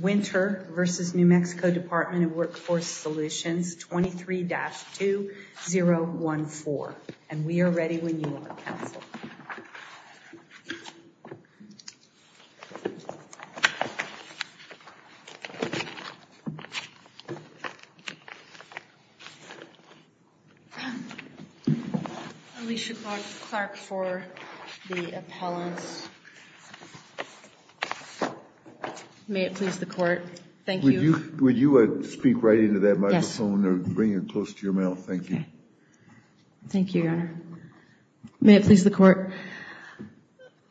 Winter v. New Mexico Department of Workforce Solutions 23-2014. And we are ready when you are, Council. Alicia Clark for the appellants. May it please the Court. Thank you. Would you speak right into that microphone or bring it close to your mouth? Thank you. Thank you, Your Honor. May it please the Court.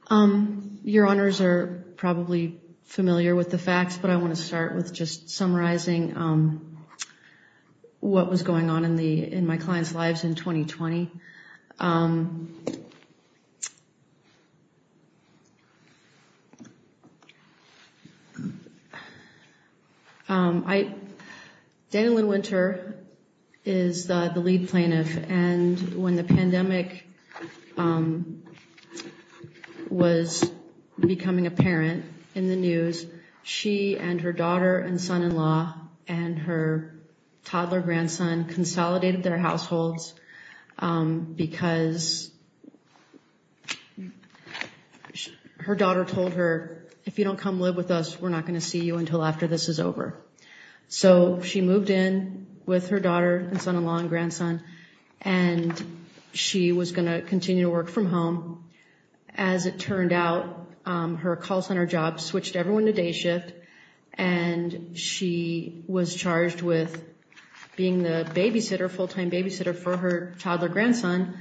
Your Honors are probably familiar with the facts, but I want to start with just summarizing what was going on in my clients' lives in 2020. Danielynn Winter is the lead plaintiff, and when the pandemic was becoming apparent in the news, she and her daughter and son-in-law and her toddler grandson consolidated their households because her daughter told her, if you don't come live with us, we're not going to see you until after this is over. So she moved in with her daughter and son-in-law and grandson, and she was going to continue to work from home. As it turned out, her call center job switched everyone to day shift, and she was charged with being the babysitter, full-time babysitter, for her toddler grandson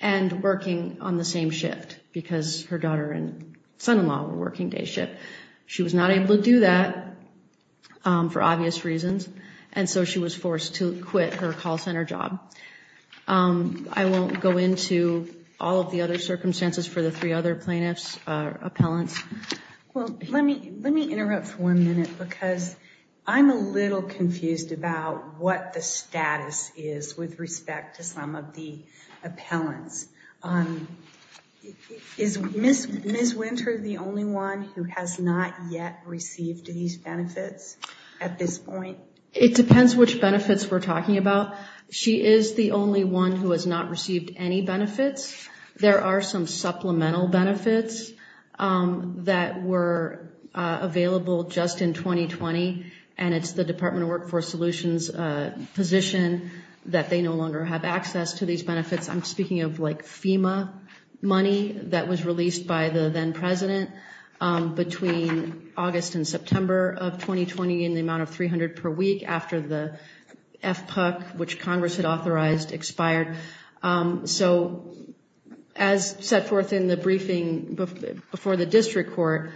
and working on the same shift because her daughter and son-in-law were working day shift. She was not able to do that for obvious reasons, and so she was forced to quit her call center job. I won't go into all of the other circumstances for the three other plaintiffs or appellants. Well, let me interrupt for one minute because I'm a little confused about what the status is with respect to some of the appellants. Is Ms. Winter the only one who has not yet received these benefits at this point? It depends which benefits we're talking about. She is the only one who has not received any benefits. There are some supplemental benefits that were available just in 2020, and it's the Department of Workforce Solutions' position that they no longer have access to these benefits. I'm speaking of FEMA money that was released by the then president between August and September of 2020 in the amount of $300 per week after the FPUC, which Congress had authorized, expired. So as set forth in the briefing before the district court,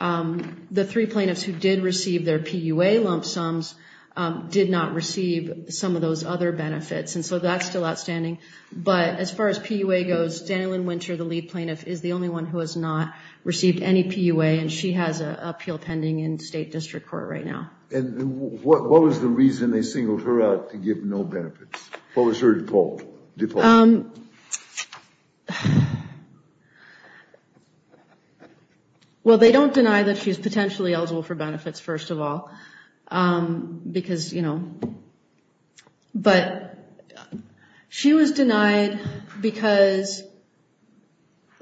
the three plaintiffs who did receive their PUA lump sums did not receive some of those other benefits, and so that's still outstanding. But as far as PUA goes, Danielyn Winter, the lead plaintiff, is the only one who has not received any PUA, and she has an appeal pending in state district court right now. And what was the reason they singled her out to give no benefits? What was her default? Well, they don't deny that she's potentially eligible for benefits, first of all, because, you know. But she was denied because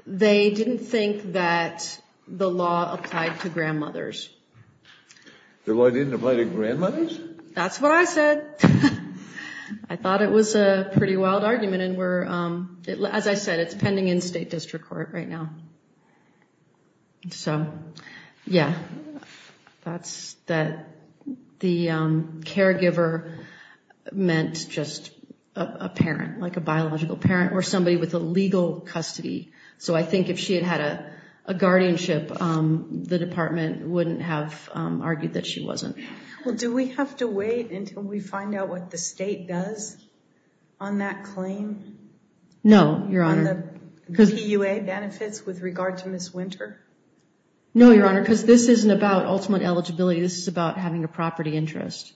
they didn't think that the law applied to grandmothers. The law didn't apply to grandmothers? That's what I said. I thought it was a pretty wild argument, and as I said, it's pending in state district court right now. So, yeah. That's that the caregiver meant just a parent, like a biological parent, or somebody with a legal custody. So I think if she had had a guardianship, the department wouldn't have argued that she wasn't. Well, do we have to wait until we find out what the state does on that claim? No, Your Honor. And the PUA benefits with regard to Ms. Winter? No, Your Honor, because this isn't about ultimate eligibility. This is about having a property interest,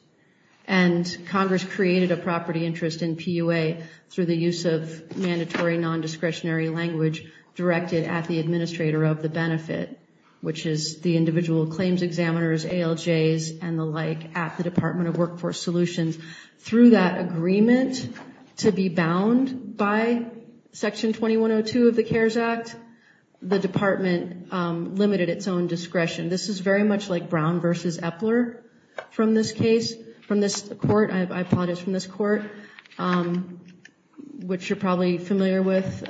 and Congress created a property interest in PUA through the use of mandatory non-discretionary language directed at the administrator of the benefit, which is the individual claims examiners, ALJs, and the like at the Department of Workforce Solutions. Through that agreement to be bound by Section 2102 of the CARES Act, the department limited its own discretion. This is very much like Brown v. Epler from this case, from this court. I apologize, from this court, which you're probably familiar with.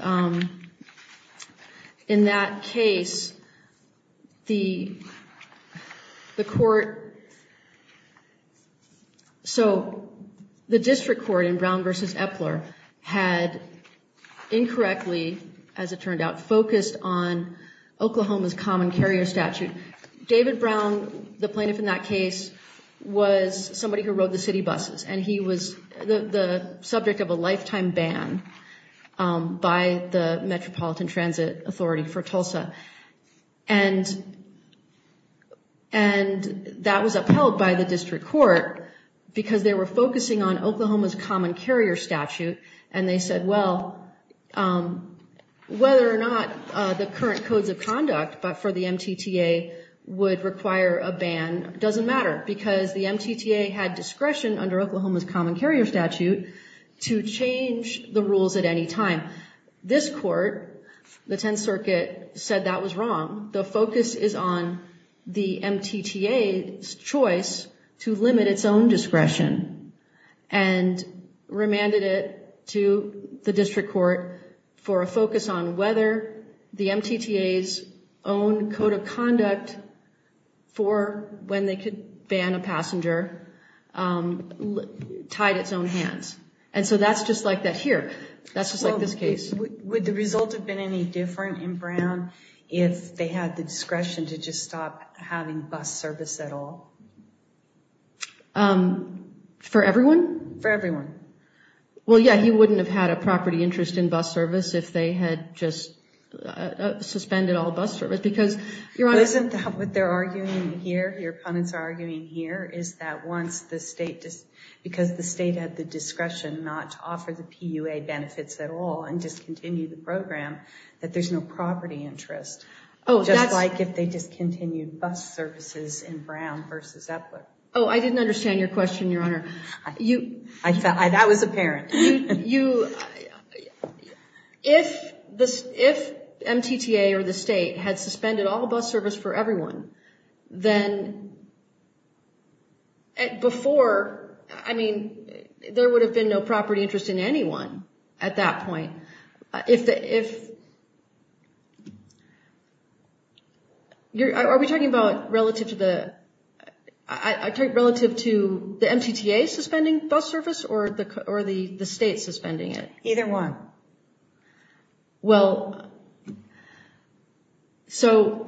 In that case, the court, so the district court in Brown v. Epler had incorrectly, as it turned out, focused on Oklahoma's common carrier statute. David Brown, the plaintiff in that case, was somebody who rode the city buses, and he was the subject of a lifetime ban by the Metropolitan Transit Authority for Tulsa. And that was upheld by the district court because they were focusing on Oklahoma's common carrier statute, and they said, well, whether or not the current codes of conduct for the MTTA would require a ban doesn't matter because the MTTA had discretion under Oklahoma's common carrier statute to change the rules at any time. This court, the Tenth Circuit, said that was wrong. The focus is on the MTTA's choice to limit its own discretion, and remanded it to the district court for a focus on whether the MTTA's own code of conduct for when they could ban a passenger tied its own hands. And so that's just like that here. That's just like this case. Would the result have been any different in Brown if they had the discretion to just stop having bus service at all? For everyone? For everyone. Well, yeah, he wouldn't have had a property interest in bus service if they had just suspended all bus service. Isn't that what they're arguing here, your opponents are arguing here, is that once the state, because the state had the discretion not to offer the PUA benefits at all and discontinued the program, that there's no property interest? Just like if they discontinued bus services in Brown versus Epler. Oh, I didn't understand your question, Your Honor. That was apparent. If MTTA or the state had suspended all bus service for everyone, then before, I mean, there would have been no property interest in anyone at that point. If the, if, are we talking about relative to the, relative to the MTTA suspending bus service or the state suspending it? Either one. Well, so.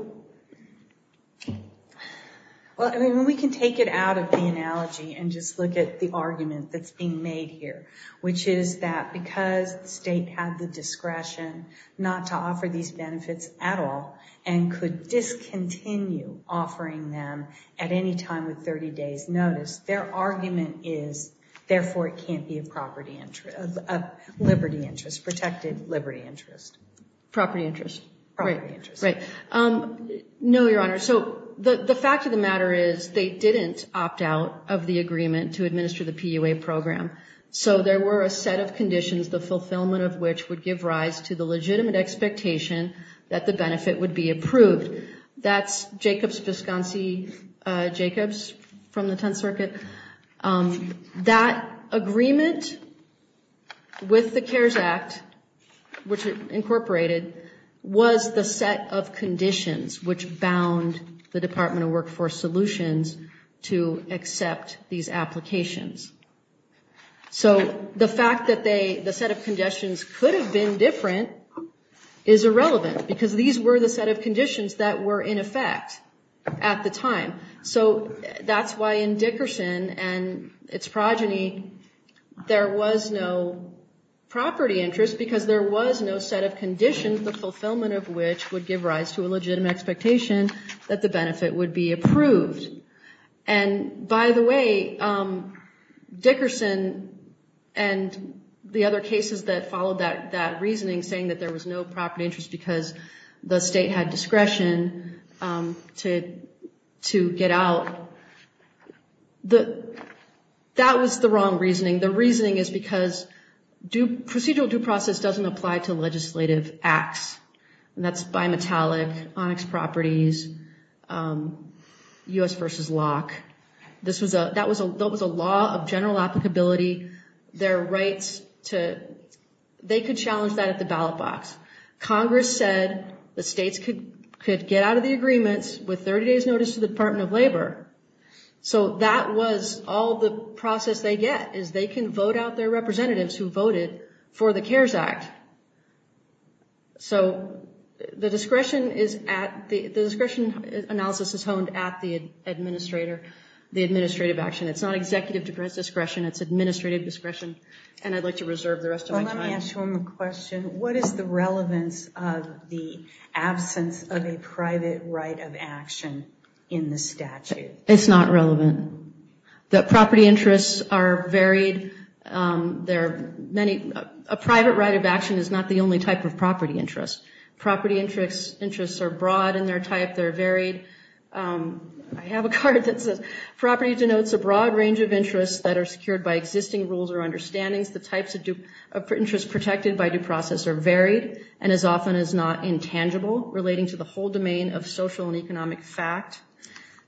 Well, I mean, we can take it out of the analogy and just look at the argument that's being made here, which is that because the state had the discretion not to offer these benefits at all and could discontinue offering them at any time with 30 days' notice, their argument is therefore it can't be a property interest, a liberty interest, protected liberty interest. Property interest. Property interest. Right, right. No, Your Honor. So the fact of the matter is they didn't opt out of the agreement to administer the PUA program. So there were a set of conditions, the fulfillment of which would give rise to the legitimate expectation that the benefit would be approved. That's Jacobs-Visconsi-Jacobs from the Tenth Circuit. That agreement with the CARES Act, which it incorporated, was the set of conditions which bound the Department of Workforce Solutions to accept these applications. So the fact that the set of conditions could have been different is irrelevant, because these were the set of conditions that were in effect at the time. So that's why in Dickerson and its progeny there was no property interest, because there was no set of conditions, the fulfillment of which would give rise to a legitimate expectation that the benefit would be approved. And by the way, Dickerson and the other cases that followed that reasoning, saying that there was no property interest because the state had discretion to get out, that was the wrong reasoning. The reasoning is because procedural due process doesn't apply to legislative acts, and that's bimetallic, onyx properties, U.S. v. Locke. That was a law of general applicability. They could challenge that at the ballot box. Congress said the states could get out of the agreements with 30 days' notice to the Department of Labor. So that was all the process they get, is they can vote out their representatives who voted for the CARES Act. So the discretion analysis is honed at the administrative action. It's not executive discretion, it's administrative discretion, and I'd like to reserve the rest of my time. Can I ask you a question? What is the relevance of the absence of a private right of action in the statute? It's not relevant. The property interests are varied. A private right of action is not the only type of property interest. Property interests are broad in their type, they're varied. I have a card that says property denotes a broad range of interests that are secured by existing rules or understandings. The types of interests protected by due process are varied and as often as not intangible relating to the whole domain of social and economic fact.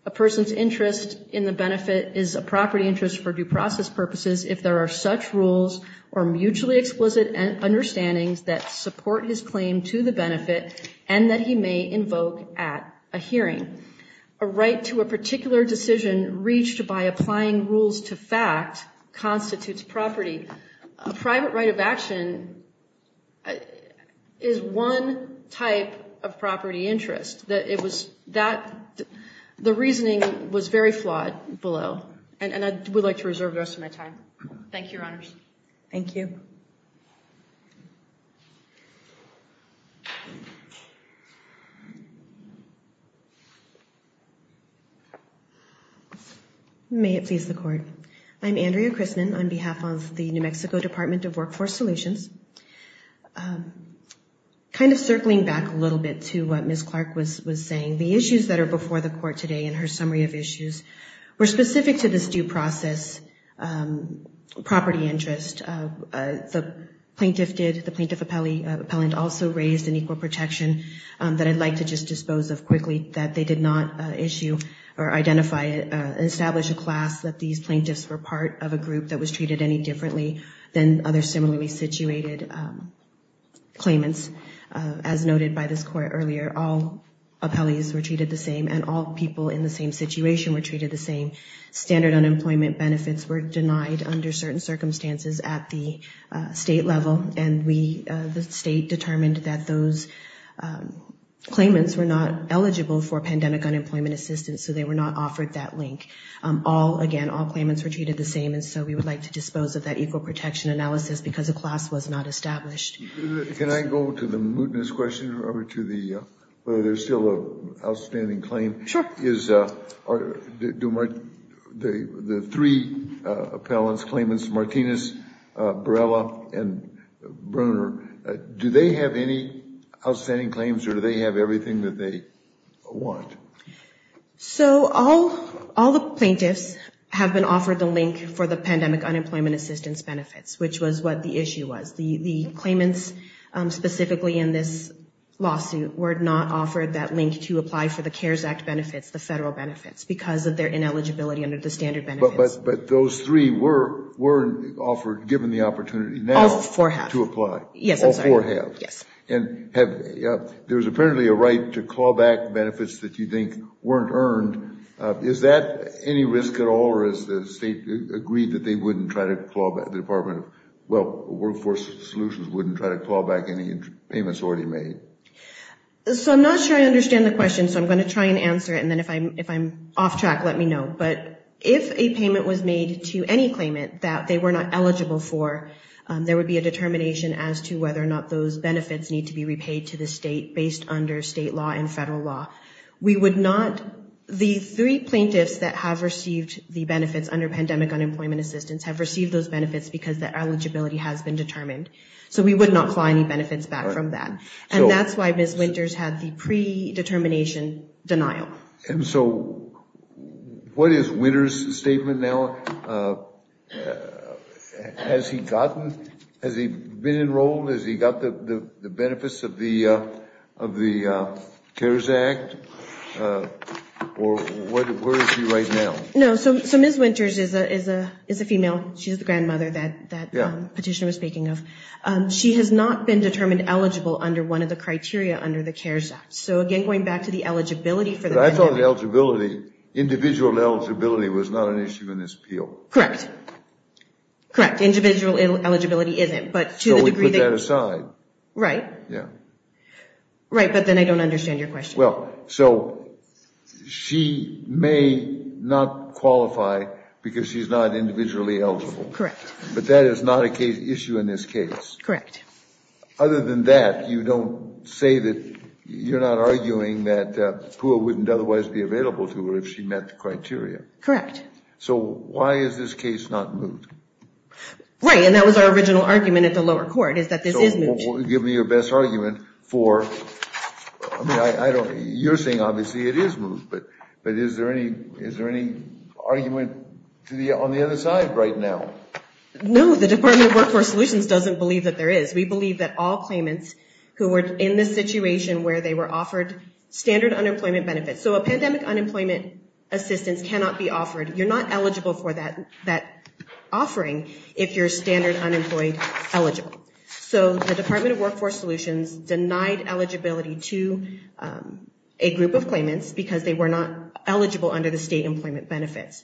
A person's interest in the benefit is a property interest for due process purposes if there are such rules or mutually explicit understandings that support his claim to the benefit and that he may invoke at a hearing. A right to a particular decision reached by applying rules to fact constitutes property. A private right of action is one type of property interest. The reasoning was very flawed below, and I would like to reserve the rest of my time. Thank you, Your Honors. Thank you. May it please the Court. I'm Andrea Chrisman on behalf of the New Mexico Department of Workforce Solutions. Kind of circling back a little bit to what Ms. Clark was saying, the issues that are before the Court today in her summary of issues were specific to this due process property interest. The plaintiff did, the plaintiff appellant also raised an equal protection that I'd like to just dispose of quickly that they did not issue or identify and establish a class that these plaintiffs were part of a group that was treated any differently than other similarly situated claimants. As noted by this Court earlier, all appellees were treated the same and all people in the same situation were treated the same. Standard unemployment benefits were denied under certain circumstances at the state level, and we, the state, determined that those claimants were not eligible for pandemic unemployment assistance, so they were not offered that link. All, again, all claimants were treated the same, and so we would like to dispose of that equal protection analysis because a class was not established. Can I go to the mootness question over to the, whether there's still an outstanding claim? Sure. The three appellant's claimants, Martinez, Barela, and Brunner, do they have any outstanding claims or do they have everything that they want? So all the plaintiffs have been offered the link for the pandemic unemployment assistance benefits, which was what the issue was. The claimants specifically in this lawsuit were not offered that link to apply for the CARES Act benefits, the federal benefits, because of their ineligibility under the standard benefits. But those three were offered, given the opportunity now to apply. All four have. Yes, I'm sorry. All four have. Yes. And there was apparently a right to call back benefits that you think weren't earned. Is that any risk at all, or is the state agreed that they wouldn't try to call back, the Department of Workforce Solutions wouldn't try to call back any payments already made? So I'm not sure I understand the question, so I'm going to try and answer it, and then if I'm off track, let me know. But if a payment was made to any claimant that they were not eligible for, there would be a determination as to whether or not those benefits need to be repaid to the state based under state law and federal law. We would not – the three plaintiffs that have received the benefits under pandemic unemployment assistance have received those benefits because their eligibility has been determined. So we would not claw any benefits back from that. And that's why Ms. Winters had the predetermination denial. And so what is Winters' statement now? Has he gotten – has he been enrolled? Has he got the benefits of the CARES Act? Or where is he right now? No, so Ms. Winters is a female. She's the grandmother that Petitioner was speaking of. She has not been determined eligible under one of the criteria under the CARES Act. So, again, going back to the eligibility for the benefit. But I thought eligibility – individual eligibility was not an issue in this appeal. Correct. Correct, individual eligibility isn't. But to the degree that – So we put that aside. Right. Yeah. Right, but then I don't understand your question. Well, so she may not qualify because she's not individually eligible. Correct. But that is not an issue in this case. Correct. Other than that, you don't say that – you're not arguing that PUA wouldn't otherwise be available to her if she met the criteria. Correct. So why is this case not moved? Right, and that was our original argument at the lower court is that this is moved. So give me your best argument for – I mean, I don't – you're saying obviously it is moved. But is there any argument on the other side right now? No, the Department of Workforce Solutions doesn't believe that there is. We believe that all claimants who were in this situation where they were offered standard unemployment benefits – so a pandemic unemployment assistance cannot be offered. You're not eligible for that offering if you're standard unemployed eligible. So the Department of Workforce Solutions denied eligibility to a group of claimants because they were not eligible under the state employment benefits.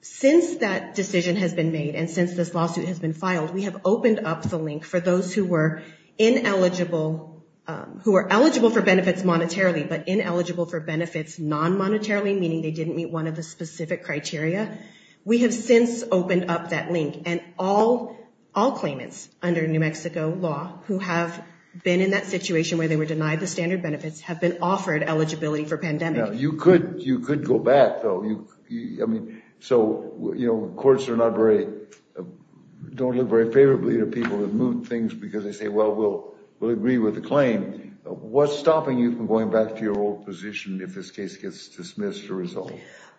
Since that decision has been made and since this lawsuit has been filed, we have opened up the link for those who were ineligible – who were eligible for benefits monetarily but ineligible for benefits non-monetarily, meaning they didn't meet one of the specific criteria. We have since opened up that link, and all claimants under New Mexico law who have been in that situation where they were denied the standard benefits have been offered eligibility for pandemic. Now, you could go back, though. I mean, so courts are not very – don't look very favorably to people who move things because they say, well, we'll agree with the claim. What's stopping you from going back to your old position if this case gets dismissed or resolved?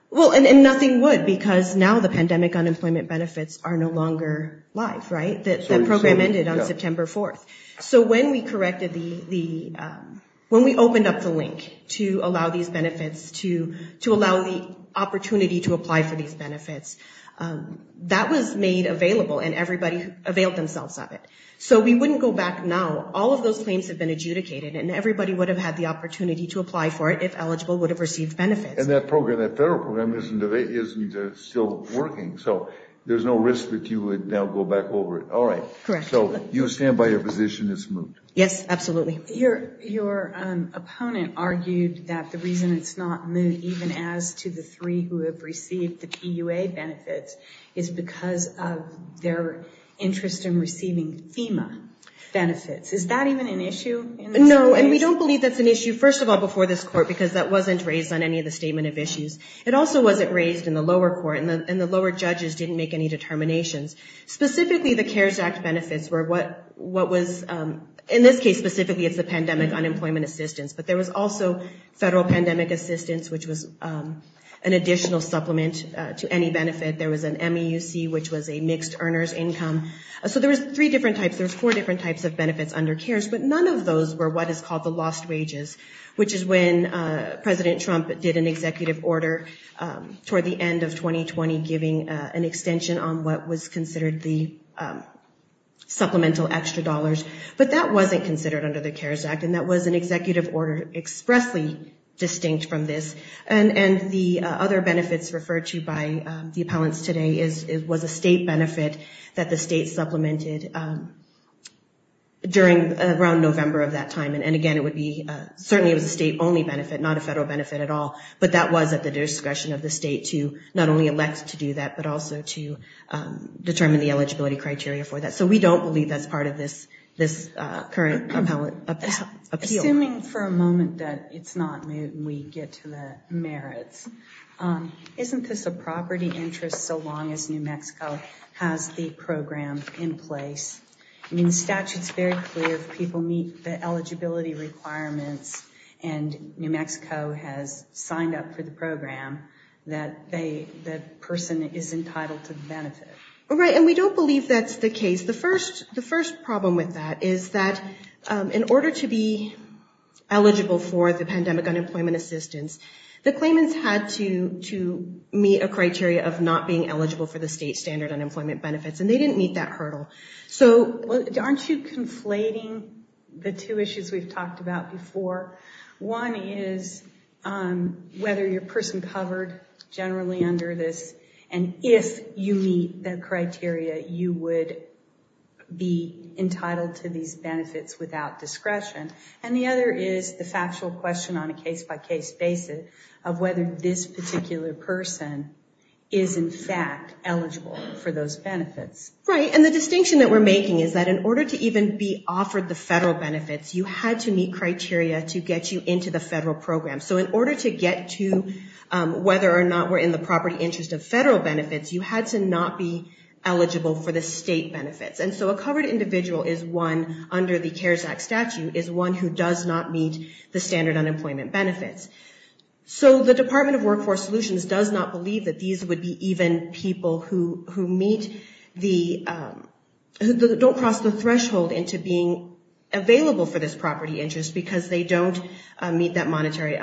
Well, and nothing would because now the pandemic unemployment benefits are no longer live, right? That program ended on September 4th. So when we corrected the – when we opened up the link to allow these benefits, to allow the opportunity to apply for these benefits, that was made available, and everybody availed themselves of it. So we wouldn't go back now. All of those claims have been adjudicated, and everybody would have had the opportunity to apply for it if eligible would have received benefits. And that program, that federal program, isn't still working. So there's no risk that you would now go back over it. All right. Correct. So you stand by your position it's moot? Yes, absolutely. Your opponent argued that the reason it's not moot, even as to the three who have received the TUA benefits, is because of their interest in receiving FEMA benefits. Is that even an issue in this situation? No, and we don't believe that's an issue, first of all, before this court, because that wasn't raised on any of the statement of issues. It also wasn't raised in the lower court, and the lower judges didn't make any determinations. Specifically, the CARES Act benefits were what was – in this case specifically it's the pandemic unemployment assistance, but there was also federal pandemic assistance, which was an additional supplement to any benefit. There was an MEUC, which was a mixed earner's income. So there was three different types. There was four different types of benefits under CARES, but none of those were what is called the lost wages, which is when President Trump did an executive order toward the end of 2020 giving an extension on what was considered the supplemental extra dollars. But that wasn't considered under the CARES Act, and that was an executive order expressly distinct from this. And the other benefits referred to by the appellants today was a state benefit that the state supplemented during around November of that time. And again, it would be – certainly it was a state-only benefit, not a federal benefit at all. But that was at the discretion of the state to not only elect to do that, but also to determine the eligibility criteria for that. So we don't believe that's part of this current appeal. Assuming for a moment that it's not moot and we get to the merits, isn't this a property interest so long as New Mexico has the program in place? I mean, the statute's very clear if people meet the eligibility requirements and New Mexico has signed up for the program, that the person is entitled to the benefit. Right, and we don't believe that's the case. The first problem with that is that in order to be eligible for the pandemic unemployment assistance, the claimants had to meet a criteria of not being eligible for the state standard unemployment benefits, and they didn't meet that hurdle. So aren't you conflating the two issues we've talked about before? One is whether you're a person covered generally under this, and if you meet that criteria you would be entitled to these benefits without discretion. And the other is the factual question on a case-by-case basis of whether this particular person is in fact eligible for those benefits. Right, and the distinction that we're making is that in order to even be offered the federal benefits, you had to meet criteria to get you into the federal program. So in order to get to whether or not we're in the property interest of federal benefits, you had to not be eligible for the state benefits. And so a covered individual is one under the CARES Act statute, is one who does not meet the standard unemployment benefits. So the Department of Workforce Solutions does not believe that these would be even people who don't cross the threshold into being available for this property interest because they need the monetary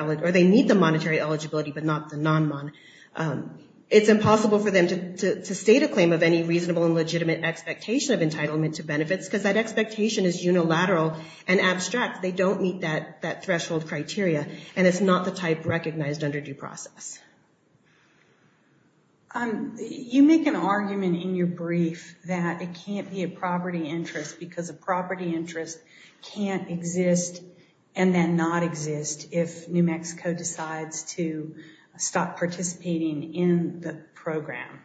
eligibility but not the non-monetary. It's impossible for them to state a claim of any reasonable and legitimate expectation of entitlement to benefits because that expectation is unilateral and abstract. They don't meet that threshold criteria and it's not the type recognized under due process. You make an argument in your brief that it can't be a property interest because a property interest can't exist and then not exist if New Mexico decides to stop participating in the program.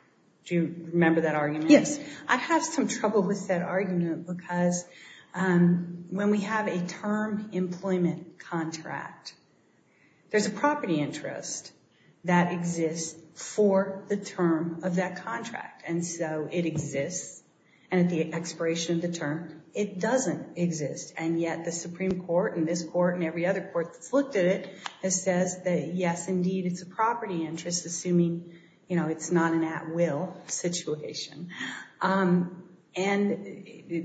Do you remember that argument? Yes. I have some trouble with that argument because when we have a term employment contract, there's a property interest that exists for the term of that contract. And so it exists. And at the expiration of the term, it doesn't exist. And yet the Supreme Court and this court and every other court that's looked at it has said that, yes, indeed, it's a property interest, assuming it's not an at-will situation. And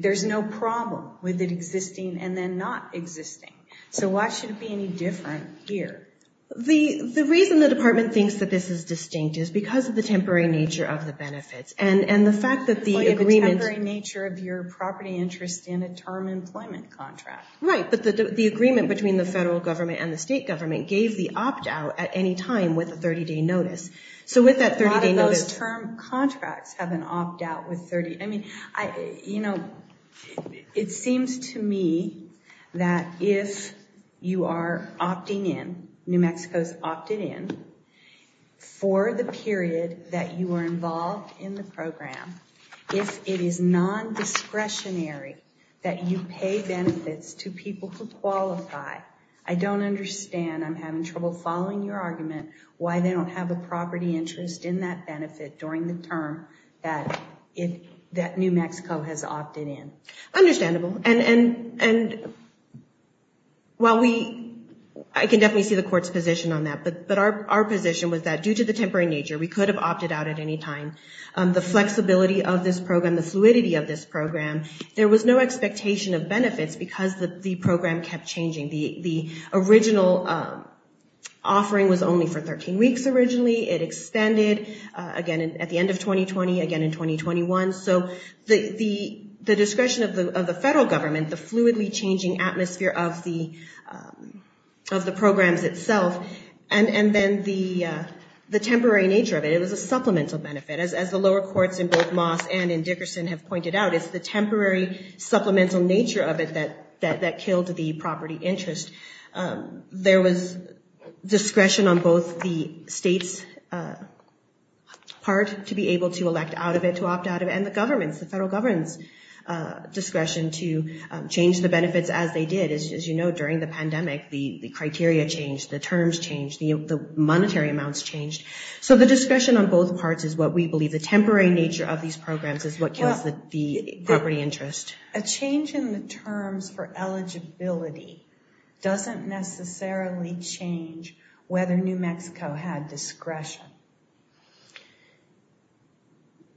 there's no problem with it existing and then not existing. So why should it be any different here? The reason the Department thinks that this is distinct is because of the temporary nature of the benefits. And the fact that the agreement- The temporary nature of your property interest in a term employment contract. Right, but the agreement between the federal government and the state government gave the opt-out at any time with a 30-day notice. So with that 30-day notice- A lot of those term contracts have an opt-out with 30- I mean, you know, it seems to me that if you are opting in, New Mexico's opted in, for the period that you are involved in the program, if it is non-discretionary that you pay benefits to people who qualify, I don't understand, I'm having trouble following your argument, why they don't have a property interest in that benefit during the term that New Mexico has opted in. Understandable. And while we- I can definitely see the court's position on that, but our position was that due to the temporary nature, we could have opted out at any time. The flexibility of this program, the fluidity of this program, there was no expectation of benefits because the program kept changing. The original offering was only for 13 weeks originally. It extended again at the end of 2020, again in 2021. So the discretion of the federal government, the fluidly changing atmosphere of the programs itself, and then the temporary nature of it, it was a supplemental benefit. As the lower courts in both Moss and in Dickerson have pointed out, it's the temporary supplemental nature of it that killed the property interest. There was discretion on both the state's part to be able to elect out of it, to opt out of it, and the government's, the federal government's discretion to change the benefits as they did. As you know, during the pandemic, the criteria changed, the terms changed, the monetary amounts changed. So the discretion on both parts is what we believe. The temporary nature of these programs is what kills the property interest. A change in the terms for eligibility doesn't necessarily change whether New Mexico had discretion.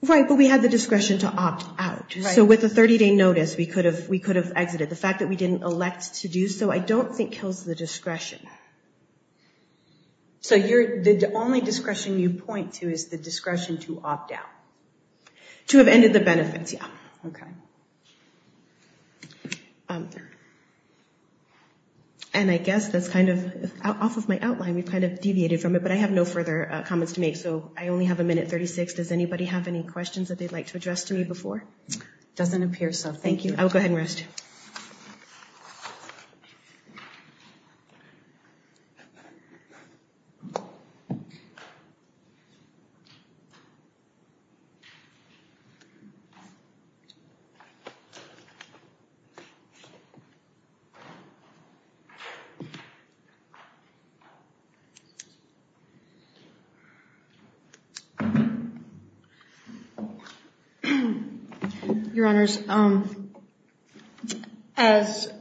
Right, but we had the discretion to opt out. So with a 30-day notice, we could have exited. The fact that we didn't elect to do so I don't think kills the discretion. So the only discretion you point to is the discretion to opt out. To have ended the benefits, yeah. Okay. And I guess that's kind of, off of my outline, we've kind of deviated from it, but I have no further comments to make, so I only have a minute 36. Does anybody have any questions that they'd like to address to me before? Doesn't appear so. Thank you. I will go ahead and rest. Your Honors, as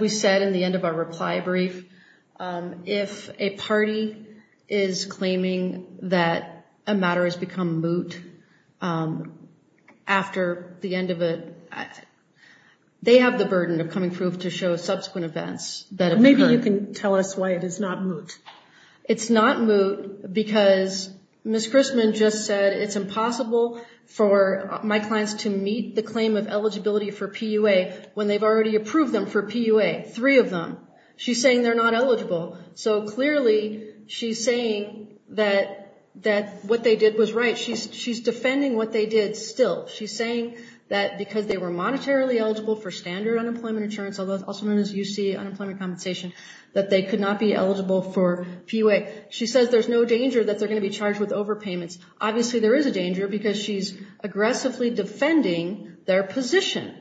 we said in the end of our reply brief, if a party is claiming that a matter has become moot after the end of it, they have the burden of coming proof to show subsequent events that have occurred. Maybe you can tell us why it is not moot. It's not moot because Ms. Christman just said, it's impossible for my clients to meet the claim of eligibility for PUA when they've already approved them for PUA, three of them. She's saying they're not eligible. So clearly she's saying that what they did was right. She's defending what they did still. She's saying that because they were monetarily eligible for standard unemployment insurance, also known as UC, unemployment compensation, that they could not be eligible for PUA. She says there's no danger that they're going to be charged with overpayments. Obviously there is a danger because she's aggressively defending their position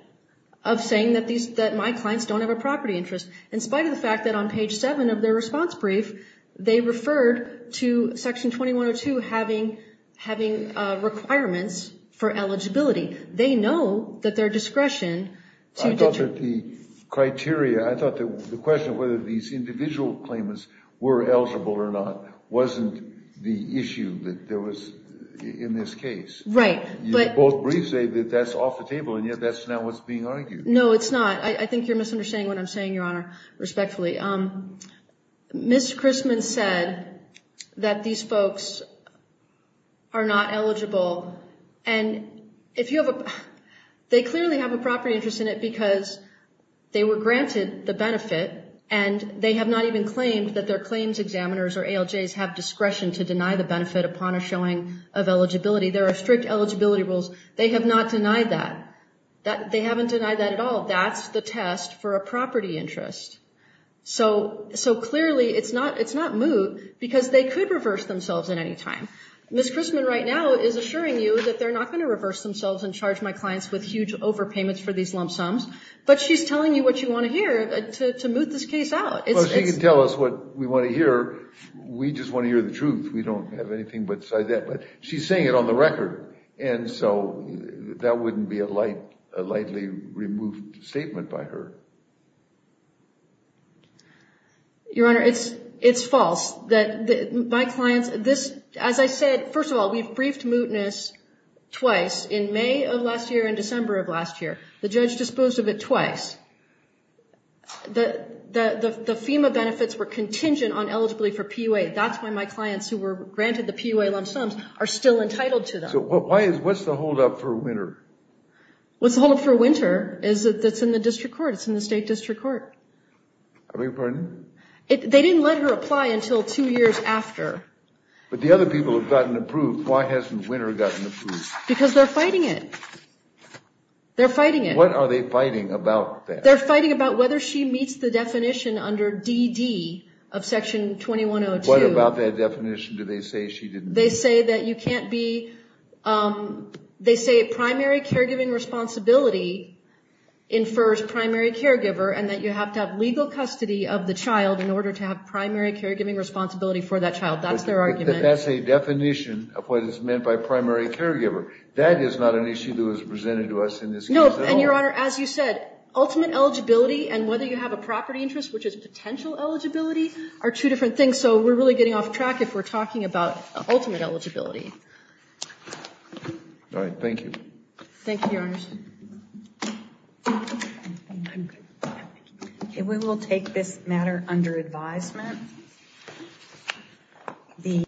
of saying that my clients don't have a property interest. In spite of the fact that on page seven of their response brief, they referred to section 2102 having requirements for eligibility. They know that their discretion to. I thought that the criteria, I thought that the question of whether these individual claimants were eligible or not wasn't the issue that there was in this case. Right. Both briefs say that that's off the table and yet that's not what's being argued. No, it's not. I think you're misunderstanding what I'm saying, Your Honor, respectfully. Ms. Chrisman said that these folks are not eligible. And they clearly have a property interest in it because they were granted the benefit and they have not even claimed that their claims examiners or ALJs have discretion to deny the benefit upon a showing of eligibility. There are strict eligibility rules. They have not denied that. They haven't denied that at all. That's the test for a property interest. So clearly it's not moot because they could reverse themselves at any time. Ms. Chrisman right now is assuring you that they're not going to reverse themselves and charge my clients with huge overpayments for these lump sums, but she's telling you what you want to hear to moot this case out. Well, she can tell us what we want to hear. We just want to hear the truth. We don't have anything besides that. But she's saying it on the record. And so that wouldn't be a lightly removed statement by her. Your Honor, it's false. As I said, first of all, we've briefed mootness twice, in May of last year and December of last year. The judge disposed of it twice. The FEMA benefits were contingent on eligibility for PUA. That's why my clients who were granted the PUA lump sums are still entitled to them. So what's the holdup for Winter? What's the holdup for Winter is that it's in the district court. It's in the state district court. I beg your pardon? They didn't let her apply until two years after. But the other people have gotten approved. Why hasn't Winter gotten approved? Because they're fighting it. They're fighting it. What are they fighting about then? They're fighting about whether she meets the definition under DD of Section 2102. What about that definition do they say she didn't meet? They say that you can't be they say primary caregiving responsibility infers primary caregiver and that you have to have legal custody of the child in order to have primary caregiving responsibility for that child. That's their argument. But that's a definition of what is meant by primary caregiver. That is not an issue that was presented to us in this case at all. No, and, Your Honor, as you said, ultimate eligibility and whether you have a property interest, which is potential eligibility, are two different things. So we're really getting off track if we're talking about ultimate eligibility. All right. Thank you. Thank you, Your Honors. We will take this matter under advisement.